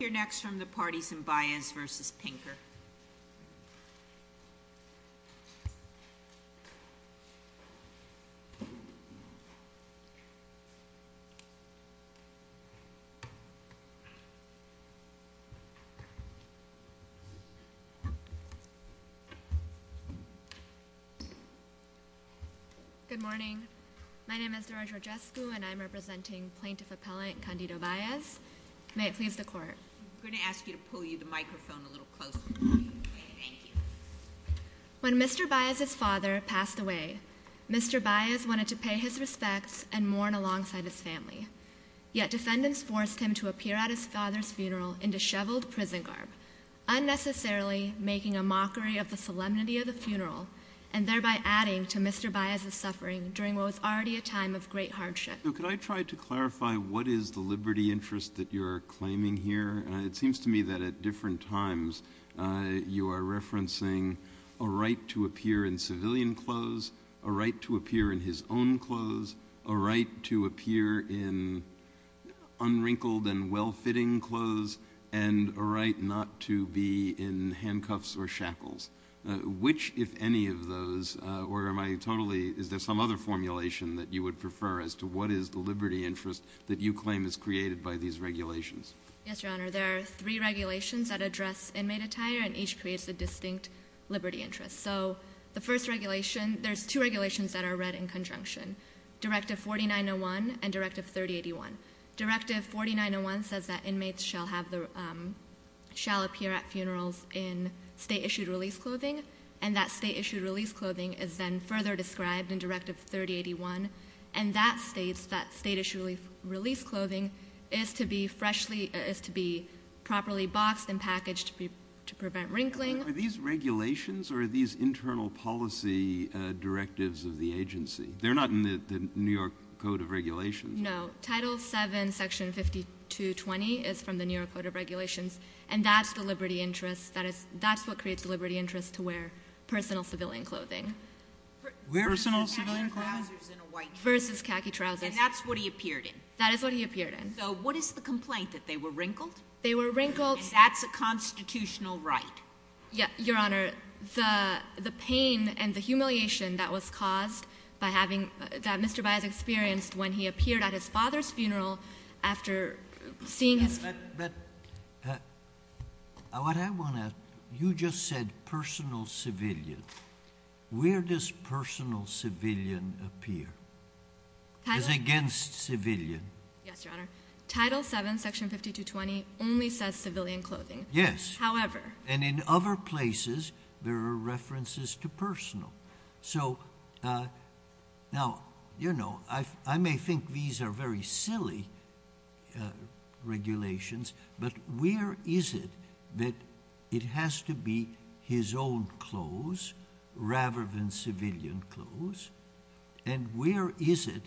We'll hear next from the parties in Baez v. Pinker. Good morning. My name is Nora Georgescu and I'm representing Plaintiff Appellant Candido Baez. May it please the Court. I'm going to ask you to pull the microphone a little closer. Thank you. When Mr. Baez's father passed away, Mr. Baez wanted to pay his respects and mourn alongside his family. Yet defendants forced him to appear at his father's funeral in disheveled prison garb, unnecessarily making a mockery of the solemnity of the funeral and thereby adding to Mr. Baez's suffering during what was already a time of great hardship. Could I try to clarify what is the liberty interest that you're claiming here? It seems to me that at different times you are referencing a right to appear in civilian clothes, a right to appear in his own clothes, a right to appear in unwrinkled and well-fitting clothes, and a right not to be in handcuffs or shackles. Which, if any of those, or am I totally, is there some other formulation that you would prefer as to what is the liberty interest that you claim is created by these regulations? Yes, Your Honor. There are three regulations that address inmate attire and each creates a distinct liberty interest. So the first regulation, there's two regulations that are read in conjunction. Directive 4901 and Directive 3081. Directive 4901 says that inmates shall appear at funerals in state-issued release clothing, and that state-issued release clothing is then further described in Directive 3081, and that state-issued release clothing is to be properly boxed and packaged to prevent wrinkling. Are these regulations or are these internal policy directives of the agency? They're not in the New York Code of Regulations. No. Title 7, Section 5220 is from the New York Code of Regulations, and that's the liberty interest, that's what creates the liberty interest to wear personal civilian clothing. Personal civilian clothing? Versus khaki trousers. And that's what he appeared in? That is what he appeared in. So what is the complaint, that they were wrinkled? They were wrinkled. And that's a constitutional right? Your Honor, the pain and the humiliation that was caused by having, that Mr. Baez experienced when he appeared at his father's funeral after seeing his father. But what I want to, you just said personal civilian. Where does personal civilian appear? It's against civilian. Yes, Your Honor. Title 7, Section 5220 only says civilian clothing. Yes. However. And in other places, there are references to personal. So now, you know, I may think these are very silly regulations, but where is it that it has to be his own clothes rather than civilian clothes? And where is it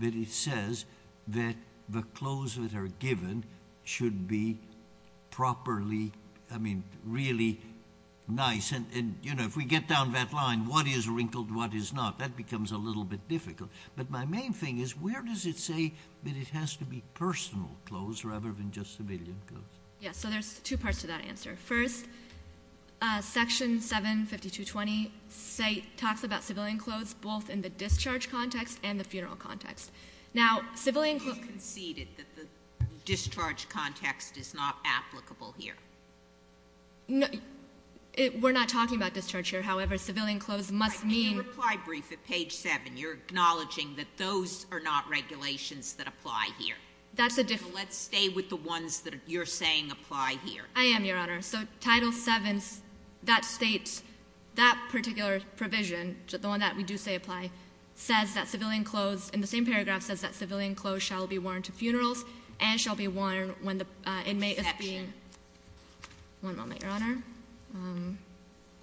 that it says that the clothes that are given should be properly, I mean, really nice? And, you know, if we get down that line, what is wrinkled, what is not, that becomes a little bit difficult. But my main thing is where does it say that it has to be personal clothes rather than just civilian clothes? Yes. So there's two parts to that answer. First, Section 75220 talks about civilian clothes both in the discharge context and the funeral context. Now, civilian clothes. You conceded that the discharge context is not applicable here. We're not talking about discharge here. However, civilian clothes must mean. In your reply brief at page 7, you're acknowledging that those are not regulations that apply here. That's a different. So let's stay with the ones that you're saying apply here. I am, Your Honor. So Title 7, that states that particular provision, the one that we do say apply, says that civilian clothes, in the same paragraph says that civilian clothes shall be worn to funerals and shall be worn when the inmate is being. Exception. One moment, Your Honor.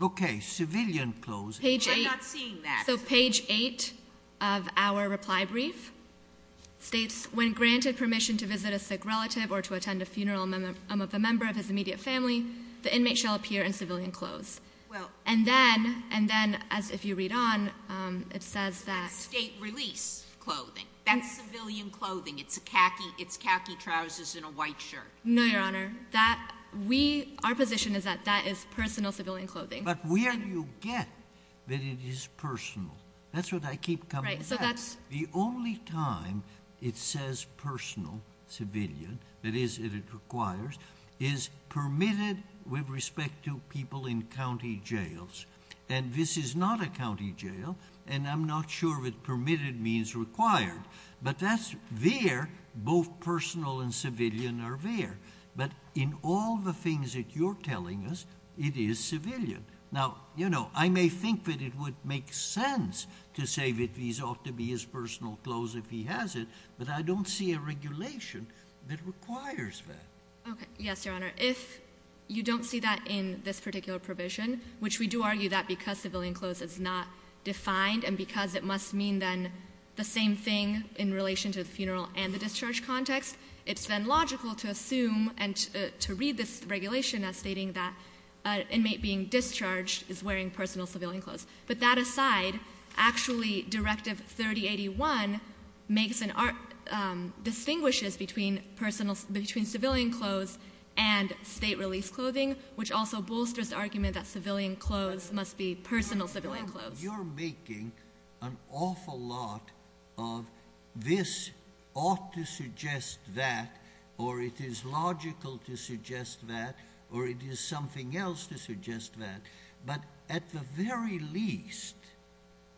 Okay, civilian clothes. I'm not seeing that. So page 8 of our reply brief states, when granted permission to visit a sick relative or to attend a funeral of a member of his immediate family, the inmate shall appear in civilian clothes. And then, as if you read on, it says that. State release clothing. That's civilian clothing. It's khaki trousers and a white shirt. No, Your Honor. Our position is that that is personal civilian clothing. But where do you get that it is personal? That's what I keep coming back to. The only time it says personal civilian, that is if it requires, is permitted with respect to people in county jails. And this is not a county jail, and I'm not sure if permitted means required. But that's there. Both personal and civilian are there. But in all the things that you're telling us, it is civilian. Now, you know, I may think that it would make sense to say that these ought to be his personal clothes if he has it, but I don't see a regulation that requires that. Okay, yes, Your Honor. If you don't see that in this particular provision, which we do argue that because civilian clothes is not defined and because it must mean then the same thing in relation to the funeral and the discharge context, it's then logical to assume and to read this regulation as stating that an inmate being discharged is wearing personal civilian clothes. But that aside, actually Directive 3081 distinguishes between civilian clothes and state-released clothing, which also bolsters the argument that civilian clothes must be personal civilian clothes. But you're making an awful lot of this ought to suggest that, or it is logical to suggest that, or it is something else to suggest that. But at the very least,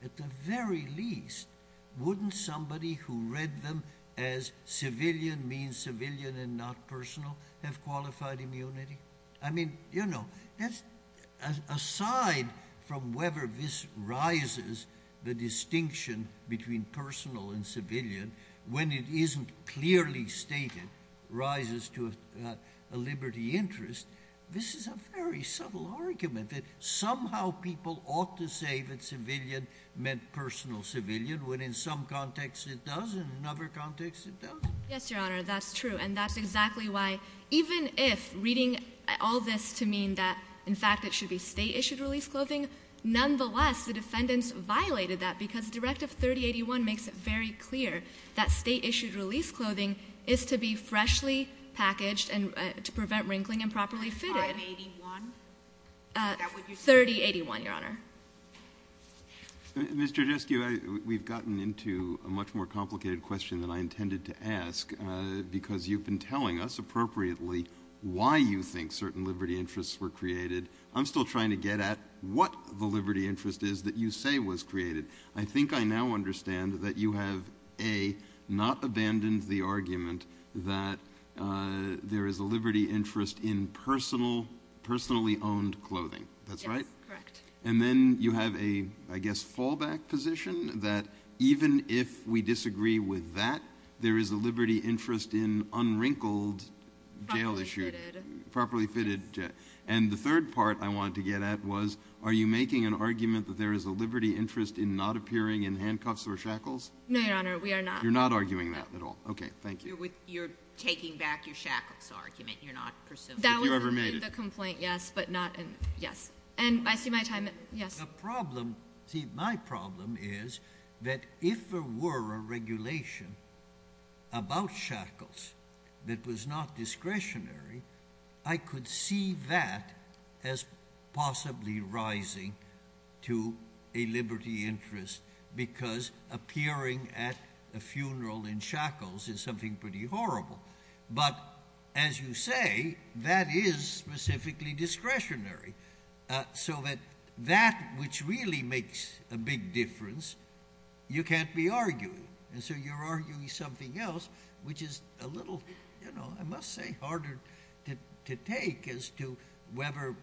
at the very least, wouldn't somebody who read them as civilian means civilian and not personal have qualified immunity? I mean, you know, aside from whether this rises the distinction between personal and civilian when it isn't clearly stated rises to a liberty interest, this is a very subtle argument that somehow people ought to say that civilian meant personal civilian when in some context it does and in another context it doesn't. Yes, Your Honor, that's true. And that's exactly why even if reading all this to mean that, in fact, it should be state-issued released clothing, nonetheless the defendants violated that because Directive 3081 makes it very clear that state-issued released clothing is to be freshly packaged and to prevent wrinkling and properly fitted. And 581? 3081, Your Honor. Mr. Jeskew, we've gotten into a much more complicated question than I intended to ask because you've been telling us appropriately why you think certain liberty interests were created. I'm still trying to get at what the liberty interest is that you say was created. I think I now understand that you have, A, not abandoned the argument that there is a liberty interest in personally owned clothing. That's right? Correct. And then you have a, I guess, fallback position that even if we disagree with that, there is a liberty interest in unwrinkled, jail-issued. Properly fitted. Properly fitted. And the third part I wanted to get at was, are you making an argument that there is a liberty interest in not appearing in handcuffs or shackles? No, Your Honor, we are not. You're not arguing that at all? No. Okay, thank you. You're taking back your shackles argument. You're not presuming. If you ever made it. I see the complaint, yes, but not in, yes. And I see my time, yes. The problem, see, my problem is that if there were a regulation about shackles that was not discretionary, I could see that as possibly rising to a liberty interest because appearing at a funeral in shackles is something pretty horrible. But as you say, that is specifically discretionary. So that that which really makes a big difference, you can't be arguing. And so you're arguing something else, which is a little, you know, I must say, harder to take as to whether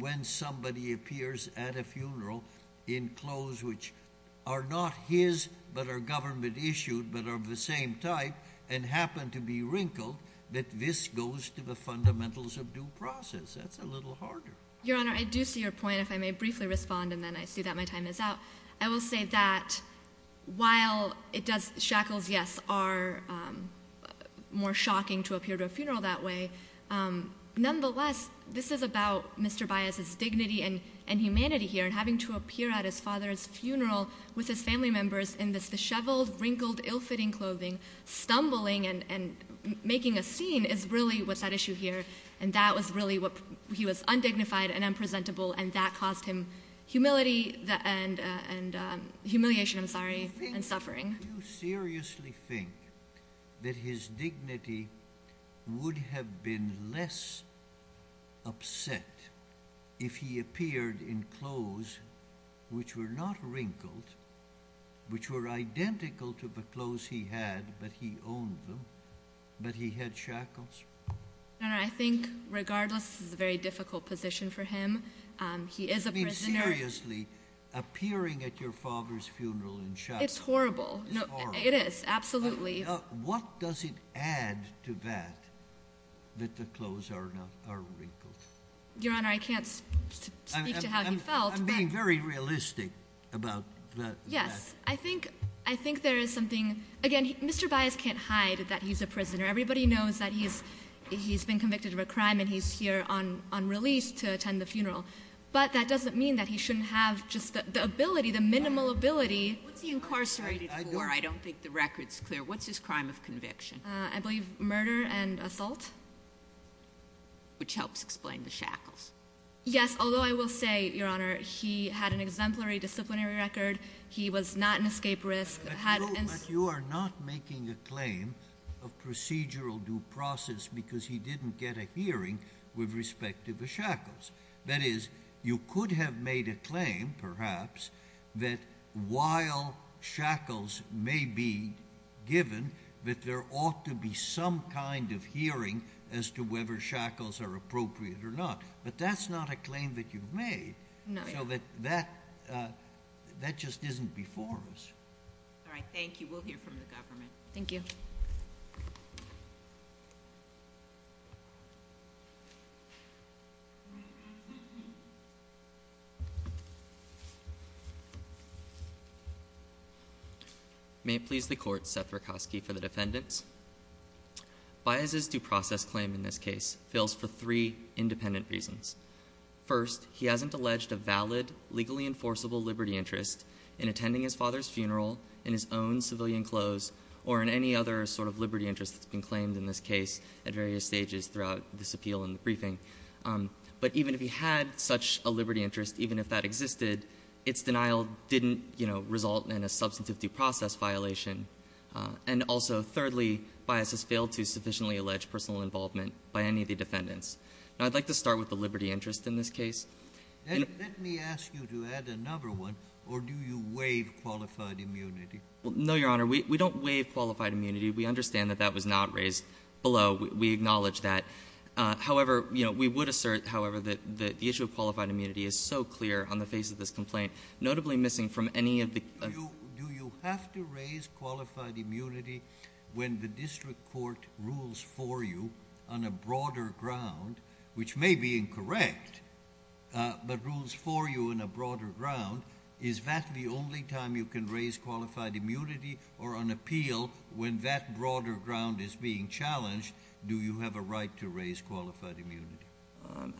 when somebody appears at a funeral in clothes which are not his but are government-issued but are of the same type and happen to be wrinkled, that this goes to the fundamentals of due process. That's a little harder. Your Honor, I do see your point, if I may briefly respond, and then I see that my time is out. I will say that while shackles, yes, are more shocking to appear at a funeral that way, nonetheless, this is about Mr. Baez's dignity and humanity here, and having to appear at his father's funeral with his family members in this disheveled, wrinkled, ill-fitting clothing, stumbling and making a scene is really what's at issue here. And that was really what he was undignified and unpresentable, and that caused him humility and humiliation, I'm sorry, and suffering. Do you seriously think that his dignity would have been less upset if he appeared in clothes which were not wrinkled, which were identical to the clothes he had, but he owned them, but he had shackles? Your Honor, I think, regardless, this is a very difficult position for him. He is a prisoner. Do you mean seriously, appearing at your father's funeral in shackles? It's horrible. It is, absolutely. What does it add to that, that the clothes are wrinkled? Your Honor, I can't speak to how he felt. I'm being very realistic about that. Yes, I think there is something. Again, Mr. Baez can't hide that he's a prisoner. Everybody knows that he's been convicted of a crime and he's here on release to attend the funeral, but that doesn't mean that he shouldn't have just the ability, the minimal ability. What's he incarcerated for? I don't think the record's clear. What's his crime of conviction? I believe murder and assault. Which helps explain the shackles. Yes, although I will say, Your Honor, he had an exemplary disciplinary record. He was not an escape risk. But you are not making a claim of procedural due process because he didn't get a hearing with respect to the shackles. That is, you could have made a claim, perhaps, that while shackles may be given, that there ought to be some kind of hearing as to whether shackles are appropriate or not. But that's not a claim that you've made. No. So that just isn't before us. All right, thank you. We'll hear from the government. Thank you. May it please the Court, Seth Rakosky for the defendants. Baez's due process claim in this case fails for three independent reasons. First, he hasn't alleged a valid, legally enforceable liberty interest in attending his father's funeral in his own civilian clothes or in any other sort of liberty interest that's been claimed in this case at various stages throughout this appeal and the briefing. But even if he had such a liberty interest, even if that existed, its denial didn't, you know, result in a substantive due process violation. And also, thirdly, Baez has failed to sufficiently allege personal involvement by any of the defendants. Now, I'd like to start with the liberty interest in this case. Let me ask you to add another one, or do you waive qualified immunity? No, Your Honor. We don't waive qualified immunity. We understand that that was not raised below. We acknowledge that. However, you know, we would assert, however, that the issue of qualified immunity is so clear on the face of this complaint, notably missing from any of the Do you have to raise qualified immunity when the district court rules for you on a broader ground, which may be incorrect, but rules for you in a broader ground? Is that the only time you can raise qualified immunity or an appeal when that broader ground is being challenged? Do you have a right to raise qualified immunity?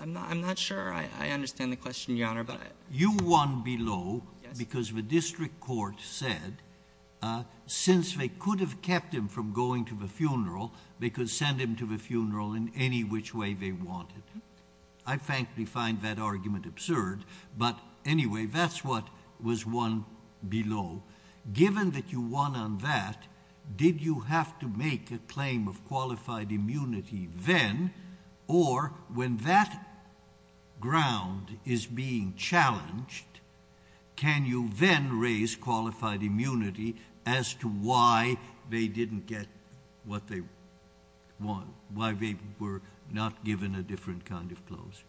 I'm not sure. I understand the question, Your Honor. You won below because the district court said since they could have kept him from going to the funeral, they could send him to the funeral in any which way they wanted. I frankly find that argument absurd. But anyway, that's what was won below. Given that you won on that, did you have to make a claim of qualified immunity then? Or when that ground is being challenged, can you then raise qualified immunity as to why they didn't get what they won, why they were not given a different kind of clause?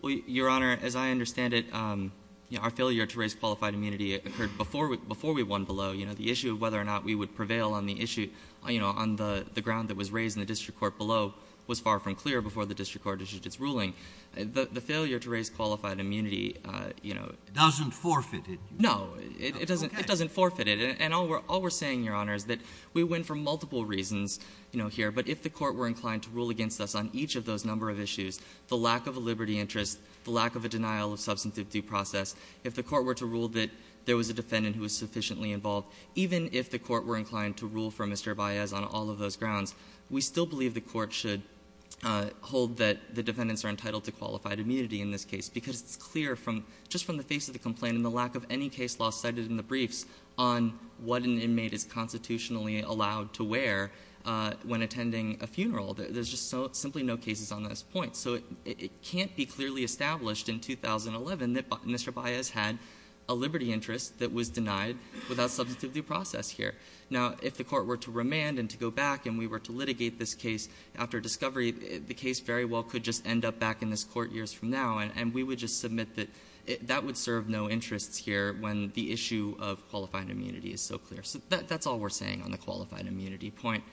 Well, Your Honor, as I understand it, our failure to raise qualified immunity occurred before we won below. The issue of whether or not we would prevail on the issue on the ground that was raised in the district court below was far from clear before the district court issued its ruling. The failure to raise qualified immunity — Doesn't forfeit it. No. It doesn't forfeit it. And all we're saying, Your Honor, is that we win for multiple reasons here. But if the Court were inclined to rule against us on each of those number of issues, the lack of a liberty interest, the lack of a denial of substantive due process, if the Court were to rule that there was a defendant who was sufficiently involved, even if the Court were inclined to rule for Mr. Baez on all of those grounds, we still believe the Court should hold that the defendants are entitled to qualified immunity in this case, because it's clear from — just from the face of the complaint and the lack of any case law cited in the briefs on what an inmate is constitutionally allowed to wear when attending a funeral. There's just simply no cases on this point. So it can't be clearly established in 2011 that Mr. Baez had a liberty interest that was denied without substantive due process here. Now, if the Court were to remand and to go back and we were to litigate this case after discovery, the case very well could just end up back in this Court years from now, and we would just submit that that would serve no interests here when the issue of qualified immunity is so clear. So that's all we're saying on the qualified immunity point.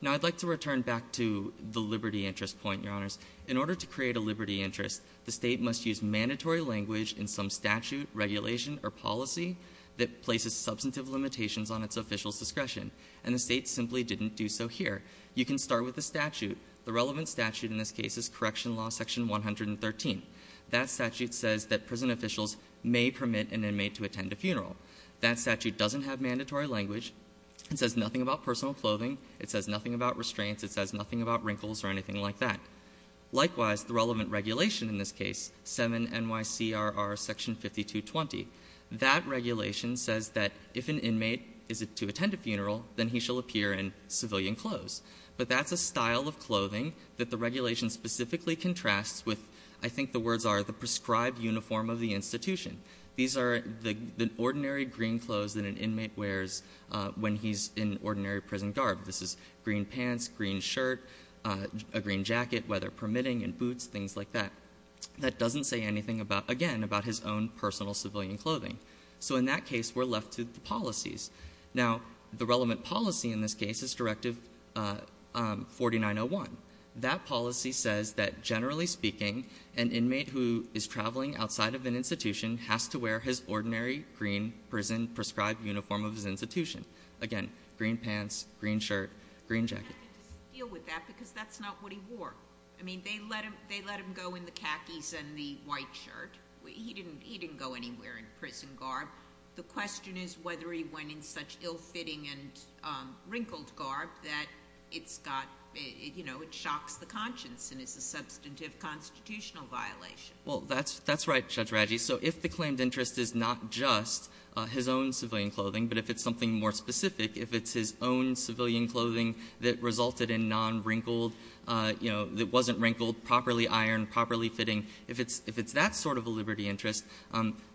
Now, I'd like to return back to the liberty interest point, Your Honors. In order to create a liberty interest, the State must use mandatory language in some statute, regulation, or policy that places substantive limitations on its officials' discretion, and the State simply didn't do so here. You can start with the statute. The relevant statute in this case is Correction Law Section 113. That statute doesn't have mandatory language. It says nothing about personal clothing. It says nothing about restraints. It says nothing about wrinkles or anything like that. Likewise, the relevant regulation in this case, 7 NYCRR Section 5220, that regulation says that if an inmate is to attend a funeral, then he shall appear in civilian clothes. But that's a style of clothing that the regulation specifically contrasts with, I think the words are, the prescribed uniform of the institution. These are the ordinary green clothes that an inmate wears when he's in ordinary prison garb. This is green pants, green shirt, a green jacket, weather permitting, and boots, things like that. That doesn't say anything, again, about his own personal civilian clothing. So in that case, we're left to the policies. Now, the relevant policy in this case is Directive 4901. That policy says that, generally speaking, an inmate who is traveling outside of an institution has to wear his ordinary, green, prison-prescribed uniform of his institution. Again, green pants, green shirt, green jacket. Sotomayor. I have to deal with that because that's not what he wore. I mean, they let him go in the khakis and the white shirt. He didn't go anywhere in prison garb. The question is whether he went in such ill-fitting and wrinkled garb that it's got, you know, it shocks the conscience and is a substantive constitutional violation. Well, that's right, Judge Radji. So if the claimed interest is not just his own civilian clothing, but if it's something more specific, if it's his own civilian clothing that resulted in non-wrinkled, you know, that wasn't wrinkled, properly ironed, properly fitting, if it's that sort of a liberty interest,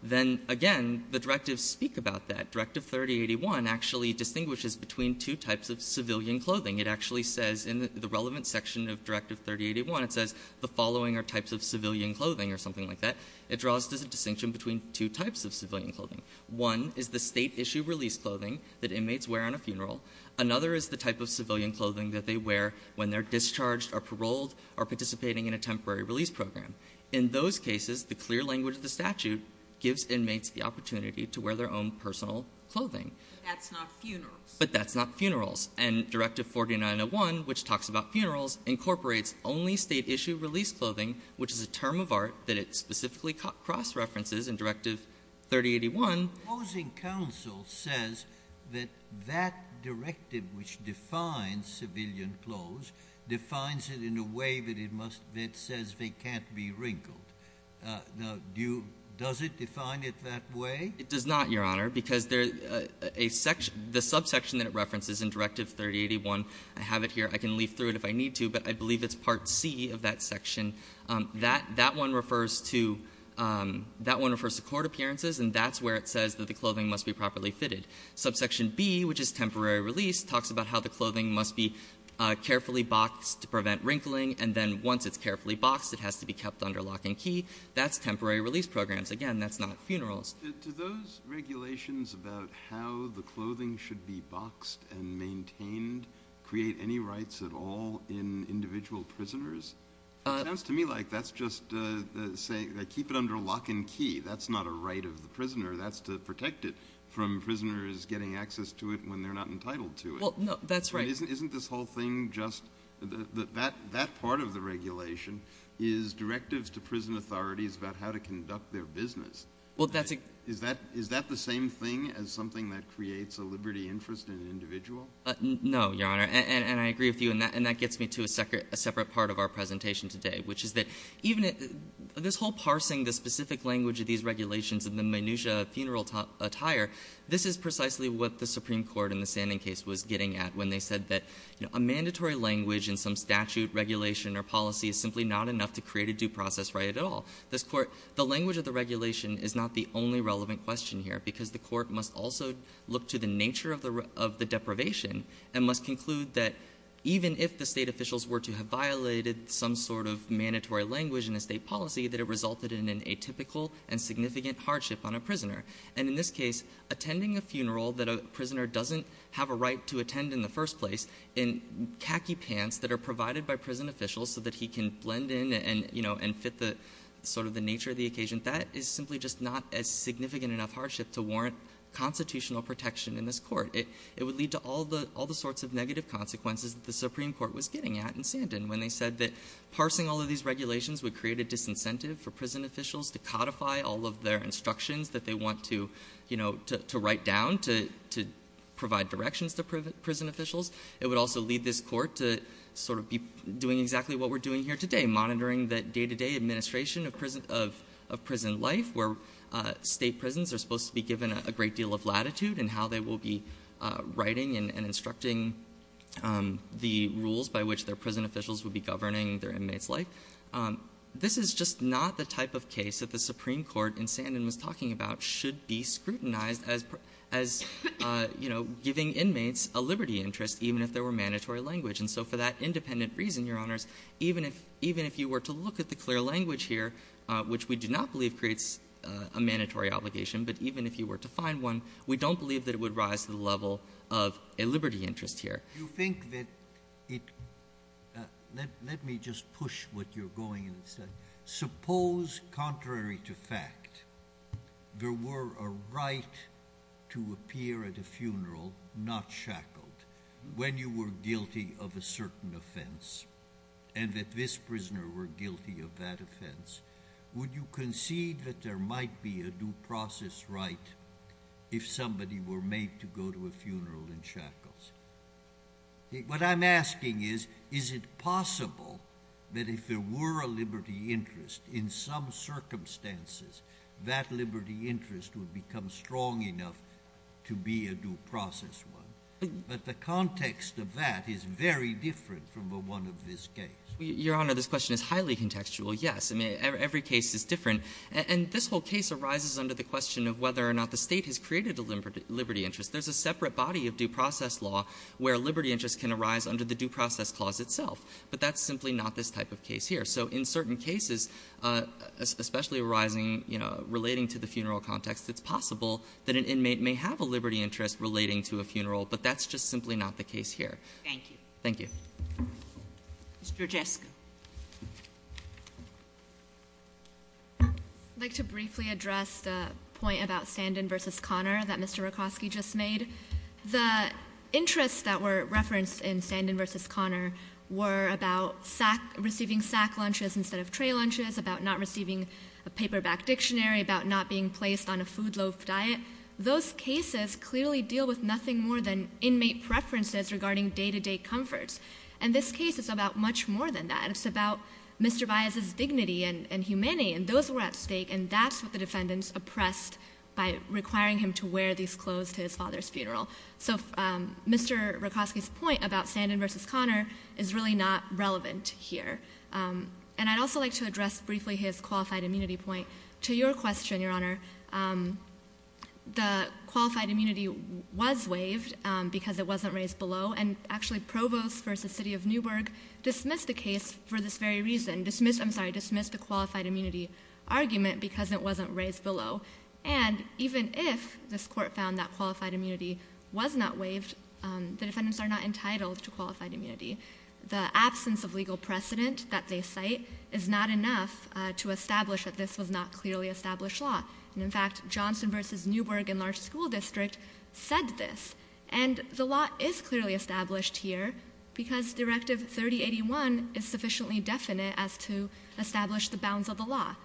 then, again, the directives speak about that. Directive 3081 actually distinguishes between two types of civilian clothing. It actually says in the relevant section of Directive 3081, it says the following are types of civilian clothing or something like that. It draws a distinction between two types of civilian clothing. One is the State-issue release clothing that inmates wear on a funeral. Another is the type of civilian clothing that they wear when they're discharged or paroled or participating in a temporary release program. In those cases, the clear language of the statute gives inmates the opportunity to wear their own personal clothing. But that's not funerals. But that's not funerals. And Directive 4901, which talks about funerals, incorporates only State-issue release clothing, which is a term of art that it specifically cross-references in Directive 3081. Sotomayor, opposing counsel says that that directive which defines civilian clothes defines it in a way that it must be, it says they can't be wrinkled. Now, do you, does it define it that way? It does not, Your Honor, because there's a section, the subsection that it references in Directive 3081, I have it here. I can leaf through it if I need to, but I believe it's Part C of that section. That one refers to court appearances, and that's where it says that the clothing must be properly fitted. Subsection B, which is temporary release, talks about how the clothing must be carefully boxed to prevent wrinkling, and then once it's carefully boxed, it has to be kept under lock and key. That's temporary release programs. Again, that's not funerals. Do those regulations about how the clothing should be boxed and maintained create any rights at all in individual prisoners? It sounds to me like that's just saying keep it under lock and key. That's not a right of the prisoner. That's to protect it from prisoners getting access to it when they're not entitled to it. Well, no, that's right. Isn't this whole thing just, that part of the regulation is directives to prison authorities about how to conduct their business. Is that the same thing as something that creates a liberty interest in an individual? No, Your Honor, and I agree with you, and that gets me to a separate part of our presentation today, which is that even this whole parsing the specific language of these regulations and the minutia of funeral attire, this is precisely what the Supreme Court in the Sanding case was getting at when they said that a mandatory language in some statute, regulation or policy is simply not enough to create a due process right at all. This Court, the language of the regulation is not the only relevant question here because the Court must also look to the nature of the deprivation and must conclude that even if the State officials were to have violated some sort of mandatory language in a State policy, that it resulted in an atypical and significant hardship on a prisoner. And in this case, attending a funeral that a prisoner doesn't have a right to attend in the first place in khaki pants that are provided by prison officials so that he can attend in and, you know, and fit the sort of the nature of the occasion, that is simply just not a significant enough hardship to warrant constitutional protection in this Court. It would lead to all the sorts of negative consequences that the Supreme Court was getting at in Sanding when they said that parsing all of these regulations would create a disincentive for prison officials to codify all of their instructions that they want to, you know, to write down to provide directions to prison officials. It would also lead this Court to sort of be doing exactly what we're doing here today, monitoring the day-to-day administration of prison life where State prisons are supposed to be given a great deal of latitude in how they will be writing and instructing the rules by which their prison officials would be governing their inmates' life. This is just not the type of case that the Supreme Court in Sanding was talking about should be scrutinized as, you know, giving inmates a liberty interest, even if there were mandatory language. And so for that independent reason, Your Honors, even if you were to look at the clear language here, which we do not believe creates a mandatory obligation, but even if you were to find one, we don't believe that it would rise to the level of a liberty interest here. Sotomayor, you think that it – let me just push what you're going in and say. Suppose, contrary to fact, there were a right to appear at a funeral, not shackled, when you were guilty of a certain offense and that this prisoner were guilty of that offense, would you concede that there might be a due process right if somebody were made to go to a funeral in shackles? What I'm asking is, is it possible that if there were a liberty interest in some circumstances, that liberty interest would become strong enough to be a due process one? But the context of that is very different from the one of this case. Your Honor, this question is highly contextual, yes. I mean, every case is different. And this whole case arises under the question of whether or not the State has created a liberty interest. There's a separate body of due process law where liberty interest can arise under the due process clause itself, but that's simply not this type of case here. So in certain cases, especially arising, you know, relating to the funeral context, it's possible that an inmate may have a liberty interest relating to a funeral, but that's just simply not the case here. Thank you. Thank you. Mr. Jasko. I'd like to briefly address the point about Sandin versus Conner that Mr. Rokoski just made. The interests that were referenced in Sandin versus Conner were about receiving sack lunches instead of tray lunches, about not receiving a paperback dictionary, about not being placed on a food loaf diet. Those cases clearly deal with nothing more than inmate preferences regarding day-to-day comforts. And this case is about much more than that. It's about Mr. Baez's dignity and humanity, and those were at stake, and that's what the defendants oppressed by requiring him to wear these clothes to his father's funeral. So Mr. Rokoski's point about Sandin versus Conner is really not relevant here. And I'd also like to address briefly his qualified immunity point. To your question, Your Honor, the qualified immunity was waived because it wasn't raised below. And actually, Provost versus City of Newburgh dismissed the case for this very reason. I'm sorry, dismissed the qualified immunity argument because it wasn't raised below. And even if this court found that qualified immunity was not waived, the defendants are not entitled to qualified immunity. The absence of legal precedent that they cite is not enough to establish that this was not clearly established law. And, in fact, Johnson versus Newburgh in large school district said this, and the law is clearly established here because Directive 3081 is sufficiently definite as to establish the bounds of the law.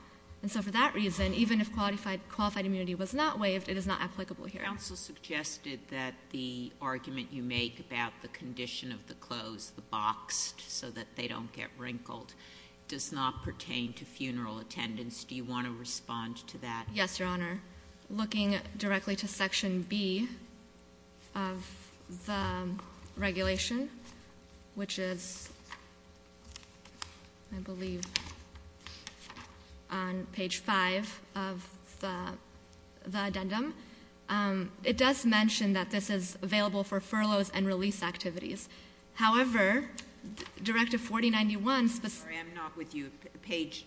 And so for that reason, even if qualified immunity was not waived, it is not applicable here. Counsel suggested that the argument you make about the condition of the clothes, the boxed, so that they don't get wrinkled, does not pertain to funeral attendance. Do you want to respond to that? Yes, Your Honor. Looking directly to Section B of the regulation, which is, I believe, on page 5 of the addendum, it does mention that this is available for furloughs and release activities. However, Directive 4091 — Sorry, I'm not with you. Page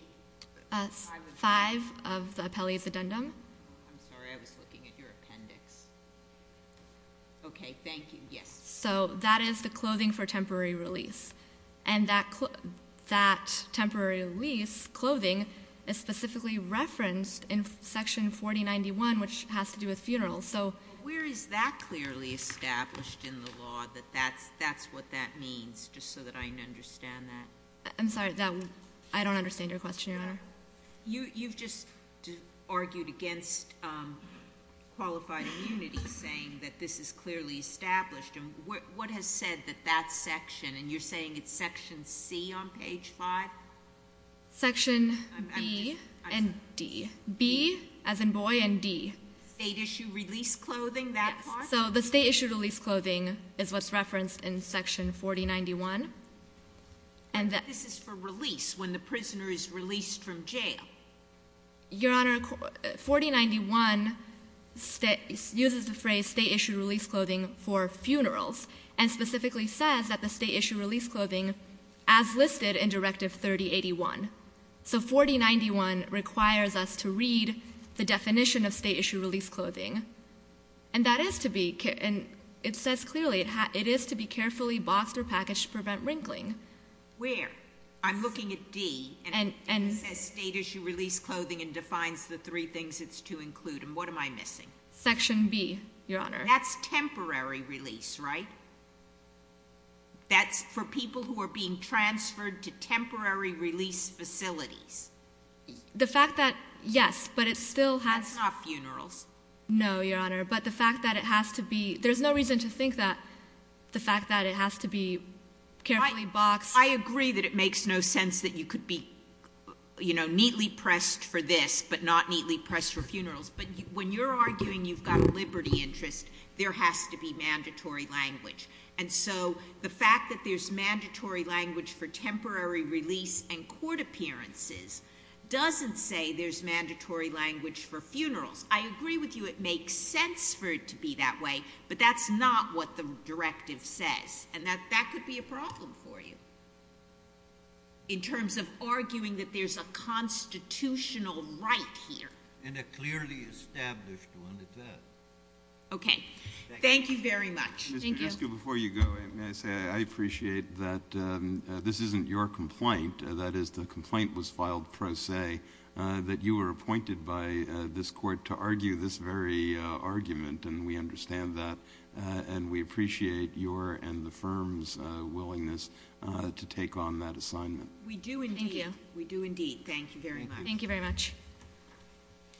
5 of the — I'm sorry. I was looking at your appendix. Okay. Thank you. Yes. So that is the clothing for temporary release. And that temporary release clothing is specifically referenced in Section 4091, which has to do with funerals. Where is that clearly established in the law, that that's what that means, I'm sorry. I don't understand your question, Your Honor. You've just argued against qualified immunity, saying that this is clearly established. And what has said that that section, and you're saying it's Section C on page 5? Section B and D. B, as in boy, and D. State-issue release clothing, that part? Yes. So the state-issue release clothing is what's referenced in Section 4091. This is for release, when the prisoner is released from jail. Your Honor, 4091 uses the phrase state-issue release clothing for funerals, and specifically says that the state-issue release clothing, as listed in Directive 3081. So 4091 requires us to read the definition of state-issue release clothing. And that is to be — and it says clearly, it is to be carefully boxed or packaged to prevent wrinkling. Where? I'm looking at D, and it says state-issue release clothing and defines the three things it's to include. And what am I missing? Section B, Your Honor. That's temporary release, right? That's for people who are being transferred to temporary release facilities. The fact that — yes, but it still has — That's not funerals. No, Your Honor. But the fact that it has to be — there's no reason to think that the fact that it has to be carefully boxed — I agree that it makes no sense that you could be, you know, neatly pressed for this, but not neatly pressed for funerals. But when you're arguing you've got liberty interest, there has to be mandatory language. And so the fact that there's mandatory language for temporary release and court appearances doesn't say there's mandatory language for funerals. I agree with you it makes sense for it to be that way, but that's not what the question is. And that could be a problem for you in terms of arguing that there's a constitutional right here. And a clearly established one at that. Okay. Thank you very much. Thank you. Mr. Jeske, before you go, may I say I appreciate that this isn't your complaint, that is the complaint was filed pro se, that you were appointed by this court to argue this very argument, and we understand that. And we appreciate your and the firm's willingness to take on that assignment. We do indeed. Thank you. We do indeed. Thank you very much.